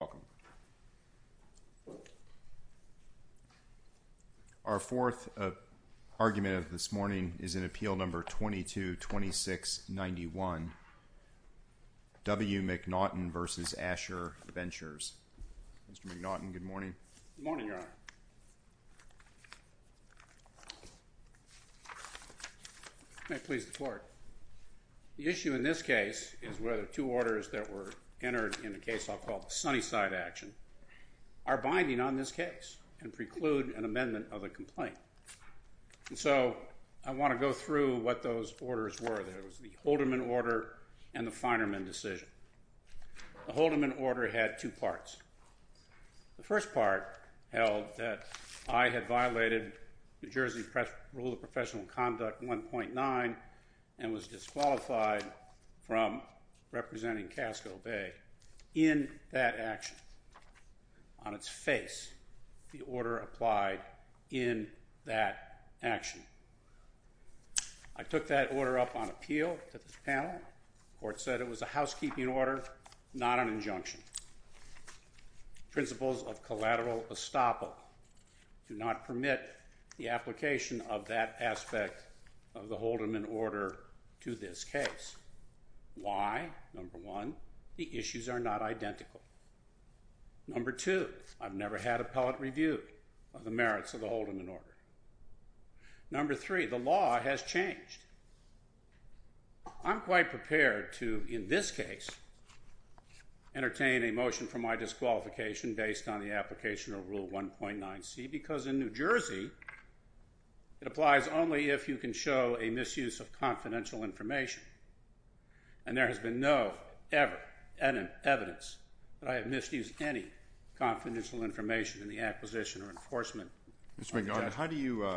Welcome. Our fourth argument of this morning is in Appeal No. 2226-91, W. Mac Naughton v. Asher Ventures. Mr. Mac Naughton, good morning. Good morning, Your Honor. May I please the floor? The issue in this case is whether two orders that were entered in a case I'll call the Sunnyside Action are binding on this case and preclude an amendment of the complaint. So I want to go through what those orders were. There was the Holderman Order and the Finerman Decision. The Holderman Order had two parts. The first part held that I had violated New Jersey Rule of Professional Conduct 1.9 and was disqualified from representing Casco Bay in that action. On its face, the order applied in that action. I took that order up on appeal to this panel. Court said it was a housekeeping order, not an injunction. Principles of collateral estoppel do not permit the application of that aspect of the Holderman Order to this case. Why? Number one, the issues are not identical. Number two, I've never had appellate review of the merits of the Holderman Order. Number three, the law has changed. I'm quite prepared to, in this case, entertain a motion for my disqualification based on the application of Rule 1.9C because in New Jersey, it applies only if you can show a misuse of confidential information. And there has been no, ever, evidence that I have misused any confidential information in the acquisition or enforcement of the judgment. Mr. McGowan, how do you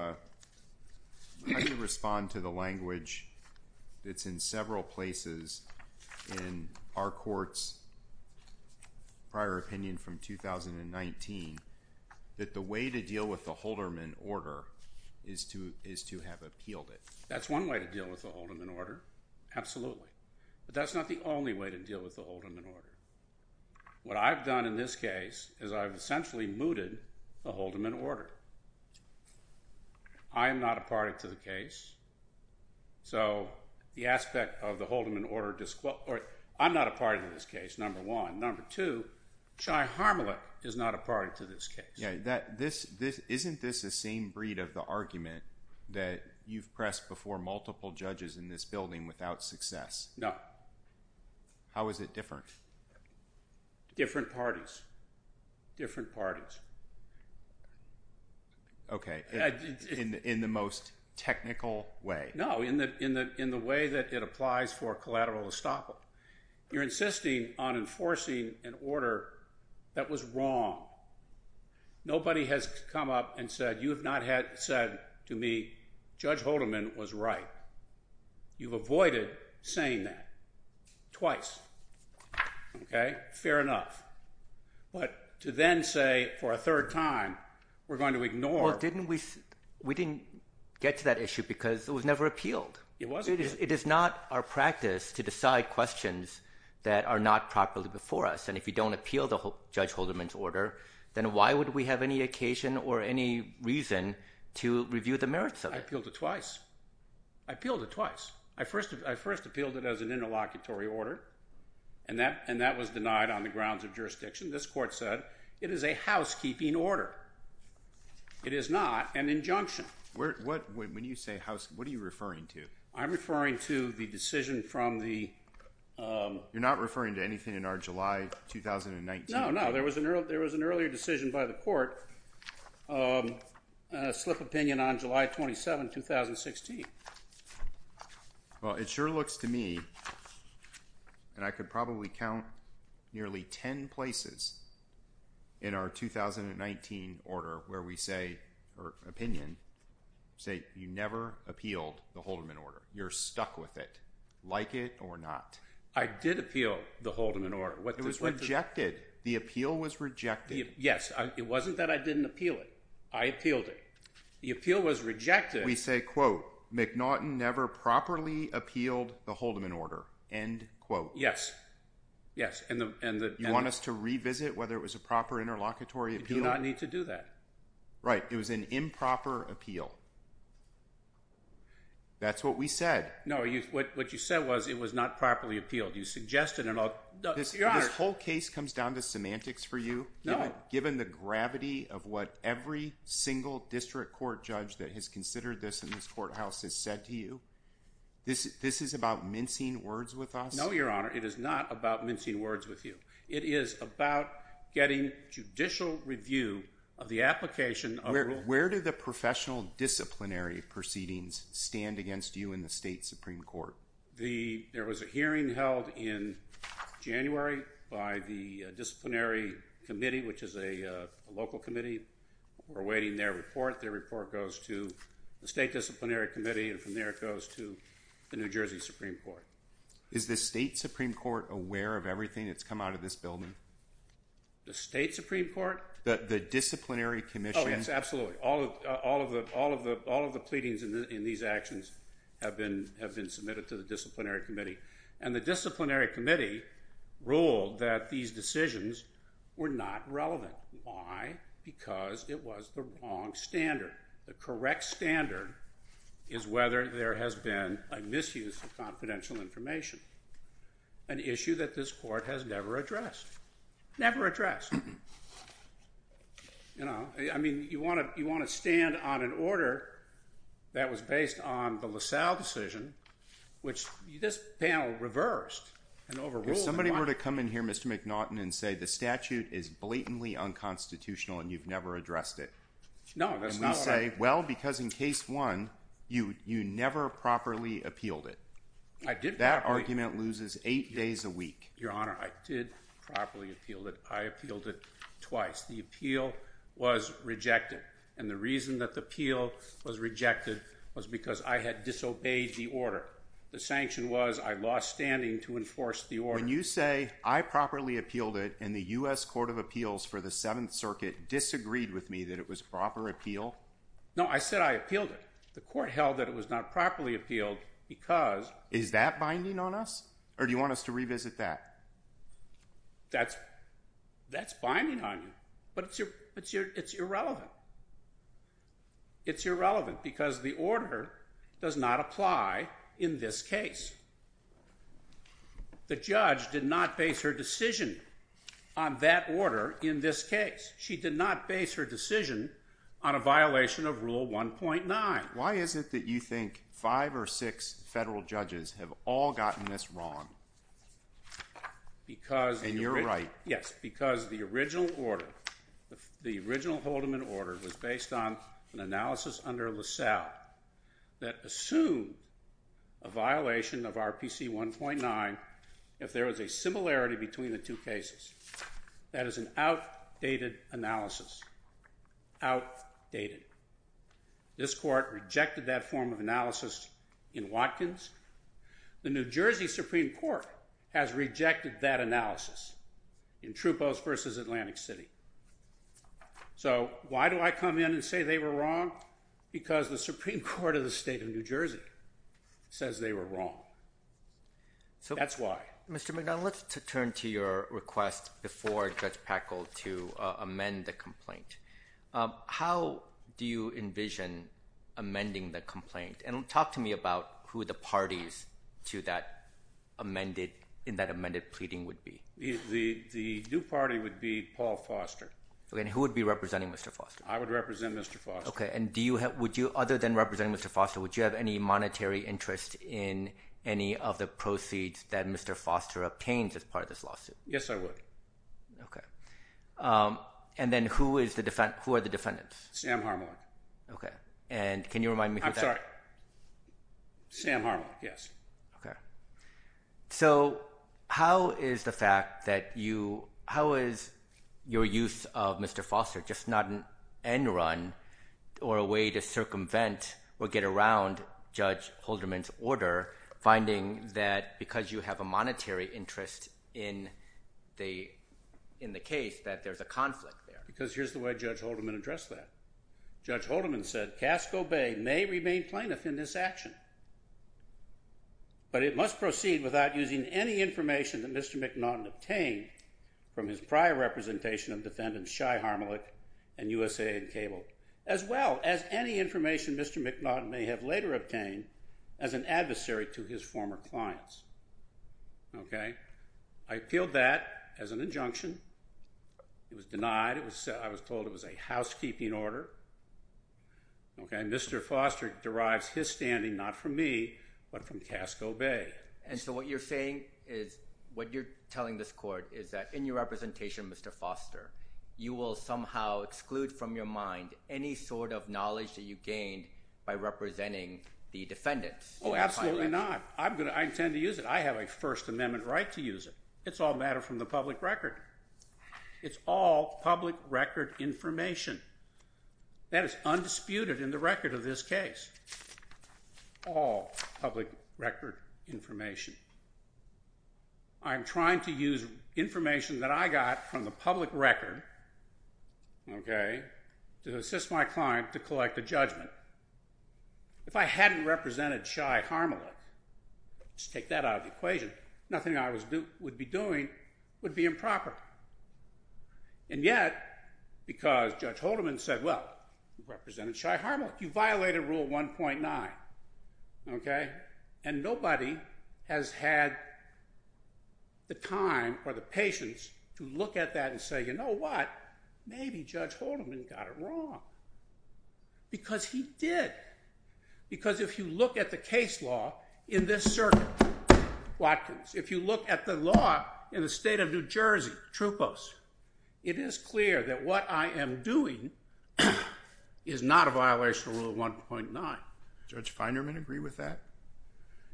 respond to the language that's in several places in our Court's prior opinion from 2019 that the way to deal with the Holderman Order is to have appealed it? That's one way to deal with the Holderman Order, absolutely, but that's not the only way to deal with the Holderman Order. What I've done in this case is I've essentially mooted the Holderman Order. I am not a party to the case. So the aspect of the Holderman Order, I'm not a party to this case, number one. Number two, Chai Harmelet is not a party to this case. Isn't this the same breed of the argument that you've pressed before multiple judges in this building without success? No. How is it different? Different parties. Different parties. Okay. In the most technical way. No. In the way that it applies for collateral estoppel. You're insisting on enforcing an order that was wrong. Nobody has come up and said, you have not said to me, Judge Holderman was right. You've avoided saying that twice. Okay? Fair enough. What? To then say for a third time, we're going to ignore. We didn't get to that issue because it was never appealed. It wasn't. It is not our practice to decide questions that are not properly before us, and if you don't appeal the Judge Holderman's Order, then why would we have any occasion or any reason to review the merits of it? I appealed it twice. I appealed it twice. I first appealed it as an interlocutory order, and that was denied on the grounds of jurisdiction. This court said, it is a housekeeping order. It is not an injunction. When you say housekeeping, what are you referring to? I'm referring to the decision from the... You're not referring to anything in our July 2019? No, no. There was an earlier decision by the court, a slip of opinion on July 27, 2016. Well, it sure looks to me, and I could probably count nearly 10 places in our 2019 order where we say, or opinion, say you never appealed the Holderman Order. You're stuck with it, like it or not. I did appeal the Holderman Order. It was rejected. The appeal was rejected. Yes. It wasn't that I didn't appeal it. I appealed it. The appeal was rejected. We say, quote, McNaughton never properly appealed the Holderman Order, end quote. Yes. Yes. You want us to revisit whether it was a proper interlocutory appeal? You do not need to do that. Right. It was an improper appeal. That's what we said. No. What you said was it was not properly appealed. You suggested it all. Your Honor. This whole case comes down to semantics for you, given the gravity of what every single district court judge that has considered this in this courthouse has said to you. This is about mincing words with us? No, Your Honor. It is not about mincing words with you. It is about getting judicial review of the application of a rule. Where do the professional disciplinary proceedings stand against you in the State Supreme Court? There was a hearing held in January by the disciplinary committee, which is a local committee. We're awaiting their report. Their report goes to the State Disciplinary Committee, and from there it goes to the New Jersey Supreme Court. Is the State Supreme Court aware of everything that's come out of this building? The State Supreme Court? The disciplinary commission? Oh, yes. Absolutely. All of the pleadings in these actions have been submitted to the disciplinary committee, and the disciplinary committee ruled that these decisions were not relevant. Why? Because it was the wrong standard. The correct standard is whether there has been a misuse of confidential information, an issue that this court has never addressed. Never addressed. You know, I mean, you want to stand on an order that was based on the LaSalle decision, which this panel reversed and overruled. If somebody were to come in here, Mr. McNaughton, and say the statute is blatantly unconstitutional and you've never addressed it. No. And we say, well, because in case one, you never properly appealed it. That argument loses eight days a week. Your Honor, I did properly appeal it. I appealed it twice. The appeal was rejected, and the reason that the appeal was rejected was because I had disobeyed the order. The sanction was I lost standing to enforce the order. When you say I properly appealed it and the U.S. Court of Appeals for the Seventh Circuit disagreed with me that it was a proper appeal? No, I said I appealed it. The court held that it was not properly appealed because... Is that binding on us, or do you want us to revisit that? That's binding on you, but it's irrelevant. It's irrelevant because the order does not apply in this case. The judge did not base her decision on that order in this case. She did not base her decision on a violation of Rule 1.9. Why is it that you think five or six federal judges have all gotten this wrong? And you're right. Yes, because the original order, the original Haldeman order, was based on an analysis under LaSalle that assumed a violation of RPC 1.9 if there is a similarity between the two cases. That is an outdated analysis, outdated. This court rejected that form of analysis in Watkins. The New Jersey Supreme Court has rejected that analysis in Troupos v. Atlantic City. So why do I come in and say they were wrong? Because the Supreme Court of the state of New Jersey says they were wrong. So that's why. Mr. McDonald, let's turn to your request before Judge Packle to amend the complaint. How do you envision amending the complaint? And talk to me about who the parties in that amended pleading would be. The new party would be Paul Foster. Who would be representing Mr. Foster? I would represent Mr. Foster. Other than representing Mr. Foster, would you have any monetary interest in any of the benefits that Mr. Foster obtains as part of this lawsuit? Yes, I would. Okay. And then who are the defendants? Sam Harmon. Okay. And can you remind me who that is? I'm sorry. Sam Harmon. Yes. Okay. So how is the fact that you, how is your use of Mr. Foster just not an end run or a way to circumvent or get around Judge Holderman's order, finding that because you have a monetary interest in the case that there's a conflict there? Because here's the way Judge Holderman addressed that. Judge Holderman said, Casco Bay may remain plaintiff in this action, but it must proceed without using any information that Mr. McDonald obtained from his prior representation of any information Mr. McDonald may have later obtained as an adversary to his former clients. Okay. I appealed that as an injunction. It was denied. I was told it was a housekeeping order. Okay. Mr. Foster derives his standing not from me, but from Casco Bay. And so what you're saying is, what you're telling this court is that in your representation, Mr. Foster, you will somehow exclude from your mind any sort of knowledge that you gained by representing the defendants. Oh, absolutely not. I'm going to, I intend to use it. I have a first amendment right to use it. It's all a matter from the public record. It's all public record information that is undisputed in the record of this case, all public record information. I'm trying to use information that I got from the public record, okay, to assist my client to collect a judgment. If I hadn't represented Shai Harmelick, let's take that out of the equation, nothing I would be doing would be improper. And yet, because Judge Haldeman said, well, you represented Shai Harmelick, you violated rule 1.9, okay? And nobody has had the time or the patience to look at that and say, you know what, maybe Judge Haldeman got it wrong. Because he did. Because if you look at the case law in this circuit, Watkins, if you look at the law in the state of New Jersey, Trupos, it is clear that what I am doing is not a violation of rule 1.9. Judge Feinerman agree with that?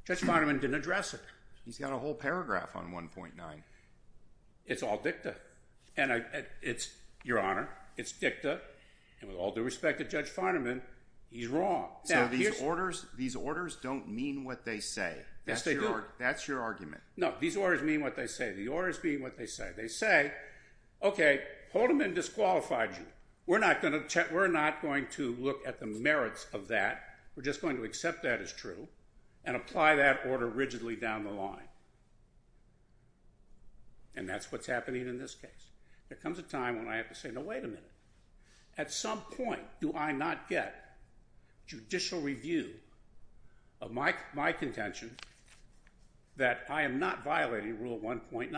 Judge Feinerman didn't address it. He's got a whole paragraph on 1.9. It's all dicta. And it's, Your Honor, it's dicta, and with all due respect to Judge Feinerman, he's wrong. So these orders, these orders don't mean what they say. Yes, they do. That's your argument. No, these orders mean what they say. The orders mean what they say. They say, okay, Haldeman disqualified you. We're not going to look at the merits of that. We're just going to accept that as true and apply that order rigidly down the line. And that's what's happening in this case. There comes a time when I have to say, no, wait a minute. At some point, do I not get judicial review of my contention that I am not violating rule 1.9?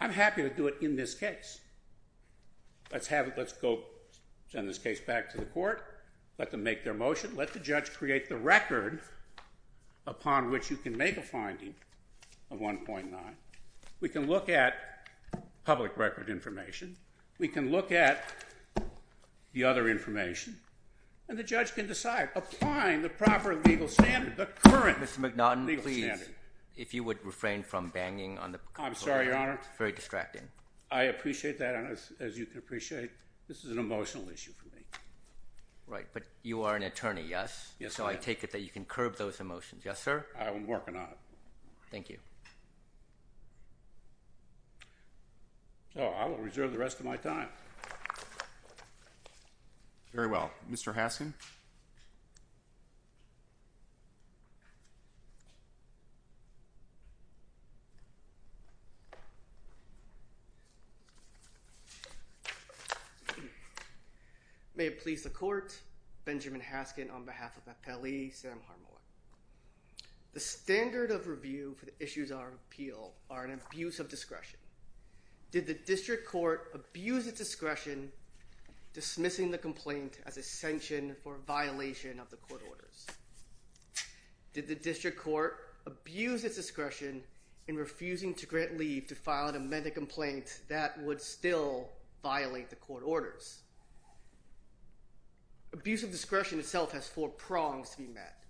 I'm happy to do it in this case. Let's have it. Let's go send this case back to the court, let them make their motion, let the judge create the record upon which you can make a finding of 1.9. We can look at public record information. We can look at the other information, and the judge can decide, applying the proper legal standard, the current legal standard. Mr. McNaughton, please. If you would refrain from banging on the... I'm sorry, Your Honor. Very distracting. I appreciate that, and as you can appreciate, this is an emotional issue for me. Right. But you are an attorney, yes? Yes, sir. So I take it that you can curb those emotions. Yes, sir? I'm working on it. Thank you. Oh, I will reserve the rest of my time. Very well. Mr. Haskin. May it please the court, Benjamin Haskin on behalf of the appellee, Sam Harmon. The standard of review for the issues of our appeal are an abuse of discretion. Did the district court abuse its discretion dismissing the complaint as a sanction for violation of the court orders? Did the district court abuse its discretion in refusing to grant leave to file an amended complaint that would still violate the court orders? Abuse of discretion itself has four prongs to be met,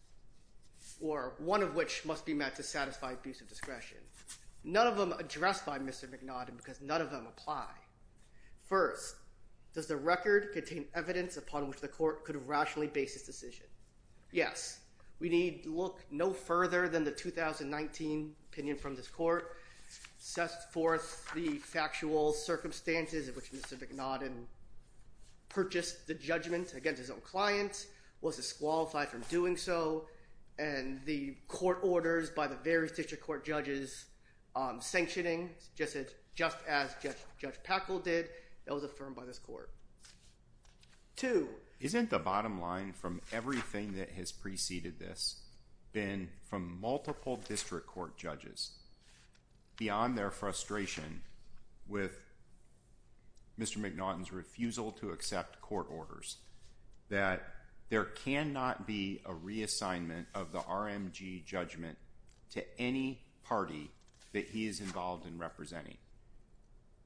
or one of which must be met to satisfy abuse of discretion. None of them are addressed by Mr. McNaughton because none of them apply. First, does the record contain evidence upon which the court could have rationally based its decision? Yes. We need to look no further than the 2019 opinion from this court, set forth the factual circumstances in which Mr. McNaughton purchased the judgment against his own client, was disqualified from court judges sanctioning, just as Judge Packle did, that was affirmed by this court. Two. Isn't the bottom line from everything that has preceded this been from multiple district court judges, beyond their frustration with Mr. McNaughton's refusal to accept court orders, that there cannot be a reassignment of the RMG judgment to any party that he is involved in representing?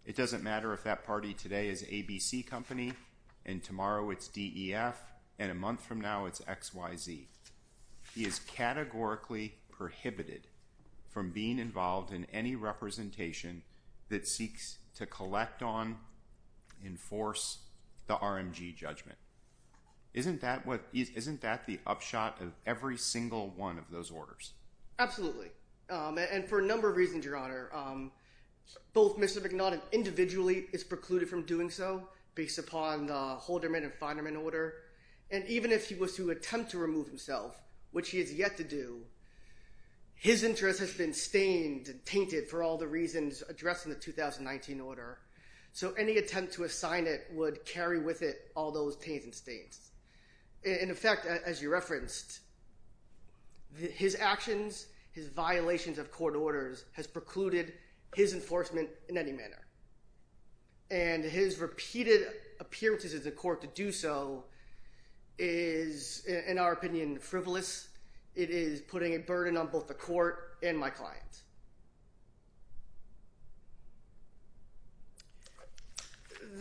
It doesn't matter if that party today is ABC Company, and tomorrow it's DEF, and a month from now it's XYZ, he is categorically prohibited from being involved in any representation that seeks to collect on, enforce the RMG judgment. Isn't that the upshot of every single one of those orders? Absolutely. And for a number of reasons, Your Honor. Both Mr. McNaughton individually is precluded from doing so, based upon the Holderman and Finerman order, and even if he was to attempt to remove himself, which he has yet to do, his interest has been stained, tainted for all the reasons addressed in the 2019 order. So any attempt to assign it would carry with it all those taints and stains. In effect, as you referenced, his actions, his violations of court orders, has precluded his enforcement in any manner. And his repeated appearances in the court to do so is, in our opinion, frivolous. It is putting a burden on both the court and my client.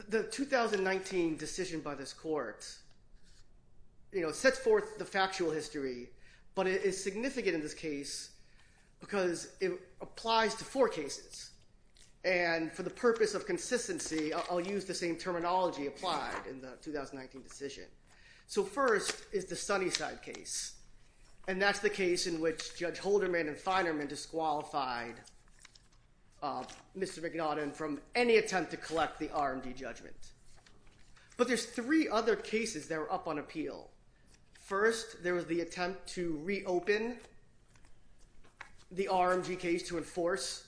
The 2019 decision by this court, you know, sets forth the factual history, but it is significant in this case because it applies to four cases. And for the purpose of consistency, I'll use the same terminology applied in the 2019 decision. So first is the Sunnyside case. And that's the case in which Judge Holderman and Finerman disqualified Mr. McNaughton from any attempt to collect the RMD judgment. But there's three other cases that are up on appeal. First, there was the attempt to reopen the RMD case to enforce.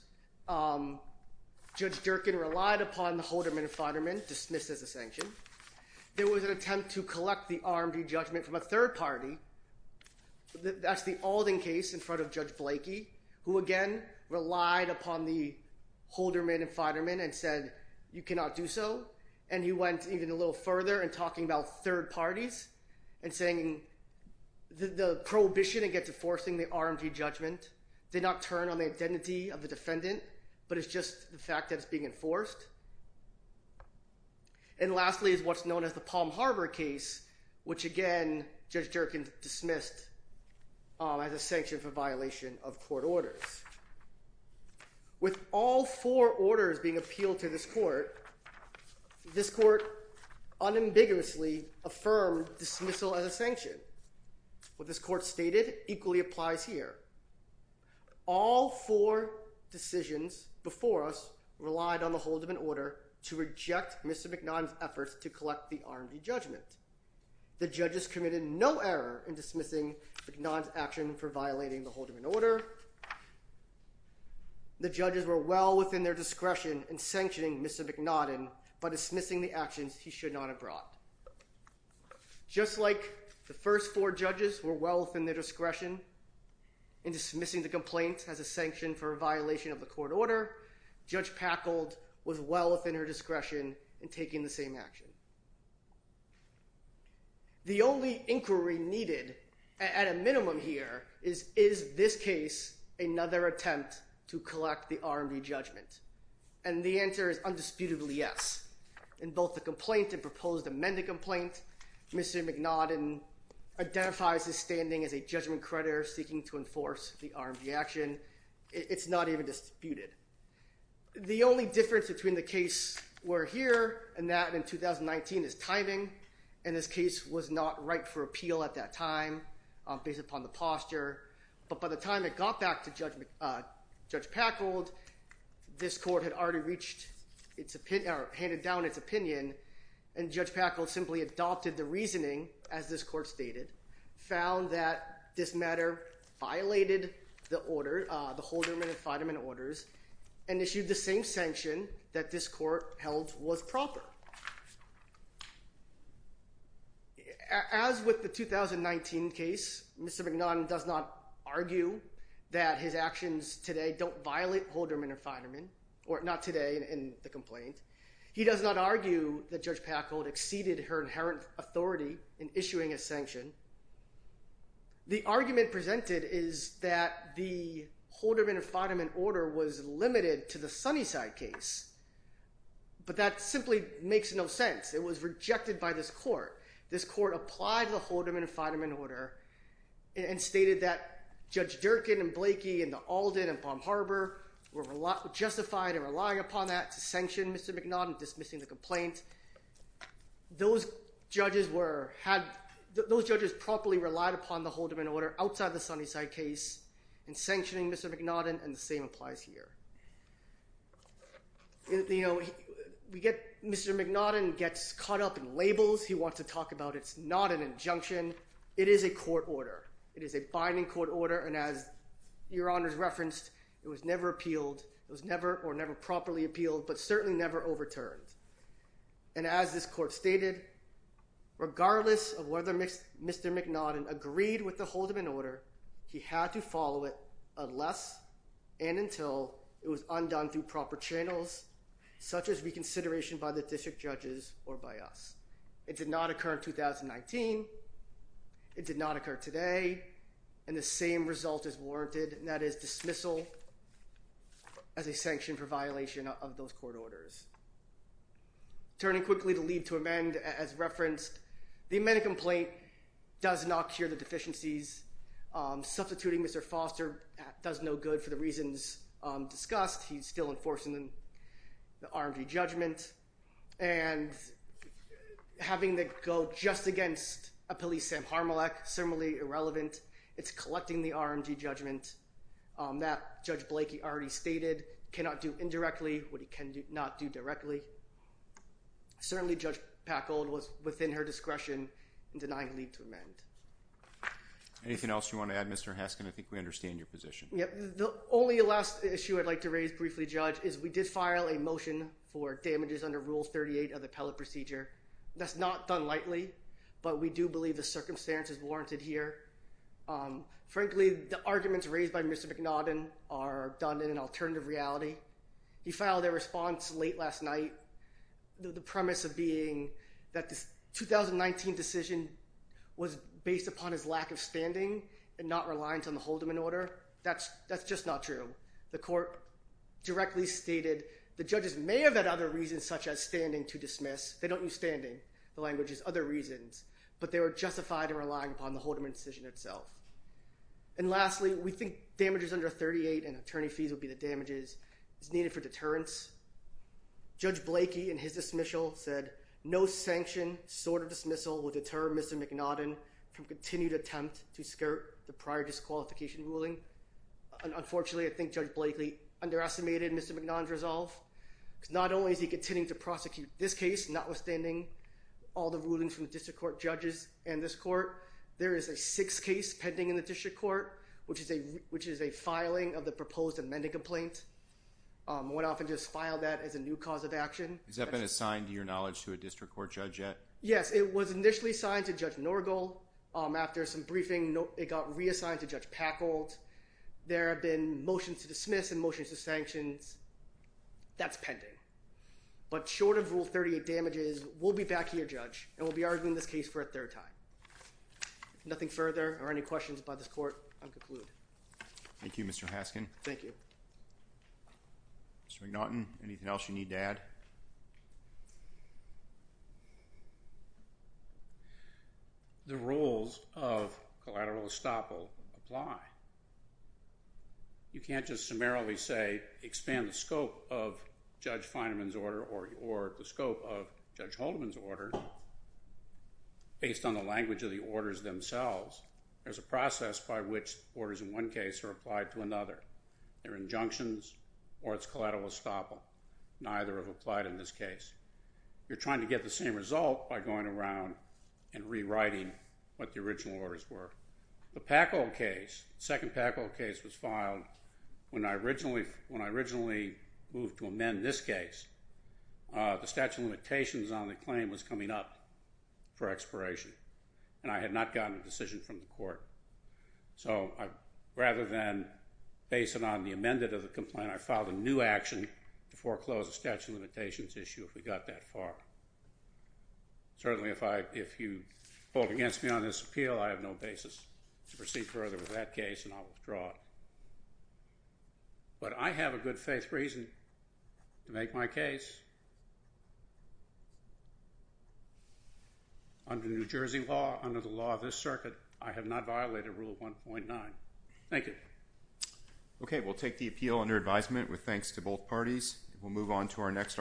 Judge Durkin relied upon the Holderman and Finerman, dismissed as a sanction. There was an attempt to collect the RMD judgment from a third party. That's the Alden case in front of Judge Blakey, who again relied upon the Holderman and Finerman and said, you cannot do so. And he went even a little further in talking about third parties and saying the prohibition against enforcing the RMD judgment did not turn on the identity of the defendant, but it's just the fact that it's being enforced. And lastly is what's known as the Palm Harbor case, which again, Judge Durkin dismissed as a sanction for violation of court orders. With all four orders being appealed to this court, this court unambiguously affirmed dismissal as a sanction. What this court stated equally applies here. All four decisions before us relied on the Holderman order to reject Mr. McNaughton's efforts to collect the RMD judgment. The judges committed no error in dismissing McNaughton's action for violating the Holderman order. The judges were well within their discretion in sanctioning Mr. McNaughton by dismissing the actions he should not have brought. Just like the first four judges were well within their discretion in dismissing the complaint as a sanction for a violation of the court order, Judge Packold was well within her discretion in taking the same action. The only inquiry needed at a minimum here is, is this case another attempt to collect the RMD judgment? And the answer is undisputably yes. In both the complaint and proposed amended complaint, Mr. McNaughton identifies his standing as a judgment creditor seeking to enforce the RMD action. It's not even disputed. The only difference between the case we're here and that in 2019 is timing, and this case was not ripe for appeal at that time based upon the posture. But by the time it got back to Judge Packold, this court had already reached its opinion or handed down its opinion, and Judge Packold simply adopted the reasoning as this court stated, found that this matter violated the order, the Holderman and Fiderman orders, and issued the same sanction that this court held was proper. As with the 2019 case, Mr. McNaughton does not argue that his actions today don't violate Holderman and Fiderman, or not today in the complaint. He does not argue that Judge Packold exceeded her inherent authority in issuing a sanction. The argument presented is that the Holderman and Fiderman order was limited to the Sunnyside case, but that simply makes no sense. It was rejected by this court. This court applied the Holderman and Fiderman order and stated that Judge Durkin and Blakey and Alden and Palm Harbor were justified in relying upon that to sanction Mr. McNaughton dismissing the complaint. Those judges promptly relied upon the Holderman order outside the Sunnyside case in sanctioning Mr. McNaughton, and the same applies here. Mr. McNaughton gets caught up in labels. He wants to talk about it's not an injunction. It is a court order. It is a binding court order, and as your honors referenced, it was never appealed. It was never or never properly appealed, but certainly never overturned. And as this court stated, regardless of whether Mr. McNaughton agreed with the Holderman order, he had to follow it unless and until it was undone through proper channels, such as reconsideration by the district judges or by us. It did not occur in 2019. It did not occur today, and the same result is warranted, and that is dismissal as a sanction for violation of those court orders. Turning quickly to leave to amend, as referenced, the amended complaint does not cure the deficiencies. Substituting Mr. Foster does no good for the reasons discussed. He's still enforcing the RMG judgment, and having to go just against a police Sam Harmalech, similarly irrelevant. It's collecting the RMG judgment that Judge Blakey already stated cannot do indirectly what he cannot do directly. Certainly Judge Packold was within her discretion in denying leave to amend. Anything else you want to add, Mr. Haskin? I think we understand your position. The only last issue I'd like to raise briefly, Judge, is we did file a motion for damages under Rule 38 of the appellate procedure. That's not done lightly, but we do believe the circumstances warranted here. Frankly, the arguments raised by Mr. McNaughton are done in an alternative reality. He filed a response late last night, the premise of being that this 2019 decision was based upon his lack of standing and not reliance on the Holderman order. That's just not true. The court directly stated the judges may have had other reasons such as standing to dismiss. They don't use standing. The language is other reasons. But they were justified in relying upon the Holderman decision itself. And lastly, we think damages under 38 and attorney fees would be the damages needed for deterrence. Judge Blakey, in his dismissal, said no sanction, sort of dismissal, would deter Mr. McNaughton from continued attempt to skirt the prior disqualification ruling. Unfortunately, I think Judge Blakey underestimated Mr. McNaughton's resolve. Not only is he continuing to prosecute this case, notwithstanding all the rulings from the district court judges and this court, there is a sixth case pending in the district court, which is a filing of the proposed amendment complaint. One often just filed that as a new cause of action. Has that been assigned to your knowledge to a district court judge yet? Yes, it was initially assigned to Judge Norgal. After some briefing, it got reassigned to Judge Packold. There have been motions to dismiss and motions to sanctions. That's pending. But short of rule 38 damages, we'll be back here, Judge, and we'll be arguing this case for a third time. Nothing further or any questions by this court, I'll conclude. Thank you, Mr. Haskin. Thank you. Mr. McNaughton, anything else you need to add? The rules of collateral estoppel apply. You can't just summarily say, expand the scope of Judge Feineman's order or the scope of Judge Haldeman's order based on the language of the orders themselves. There's a process by which orders in one case are applied to another. They're injunctions or it's collateral estoppel. Neither have applied in this case. You're trying to get the same result by going around and rewriting what the original orders were. The Packold case, the second Packold case was filed when I originally moved to amend this case. The statute of limitations on the claim was coming up for expiration, and I had not gotten a decision from the court. So rather than base it on the amended of the complaint, I filed a new action to foreclose the statute of limitations issue if we got that far. Certainly if you vote against me on this appeal, I have no basis to proceed further with that case and I'll withdraw it. But I have a good faith reason to make my case. Under New Jersey law, under the law of this circuit, I have not violated Rule 1.9. Thank you. Okay. We'll take the appeal under advisement with thanks to both parties. We'll move on to our next.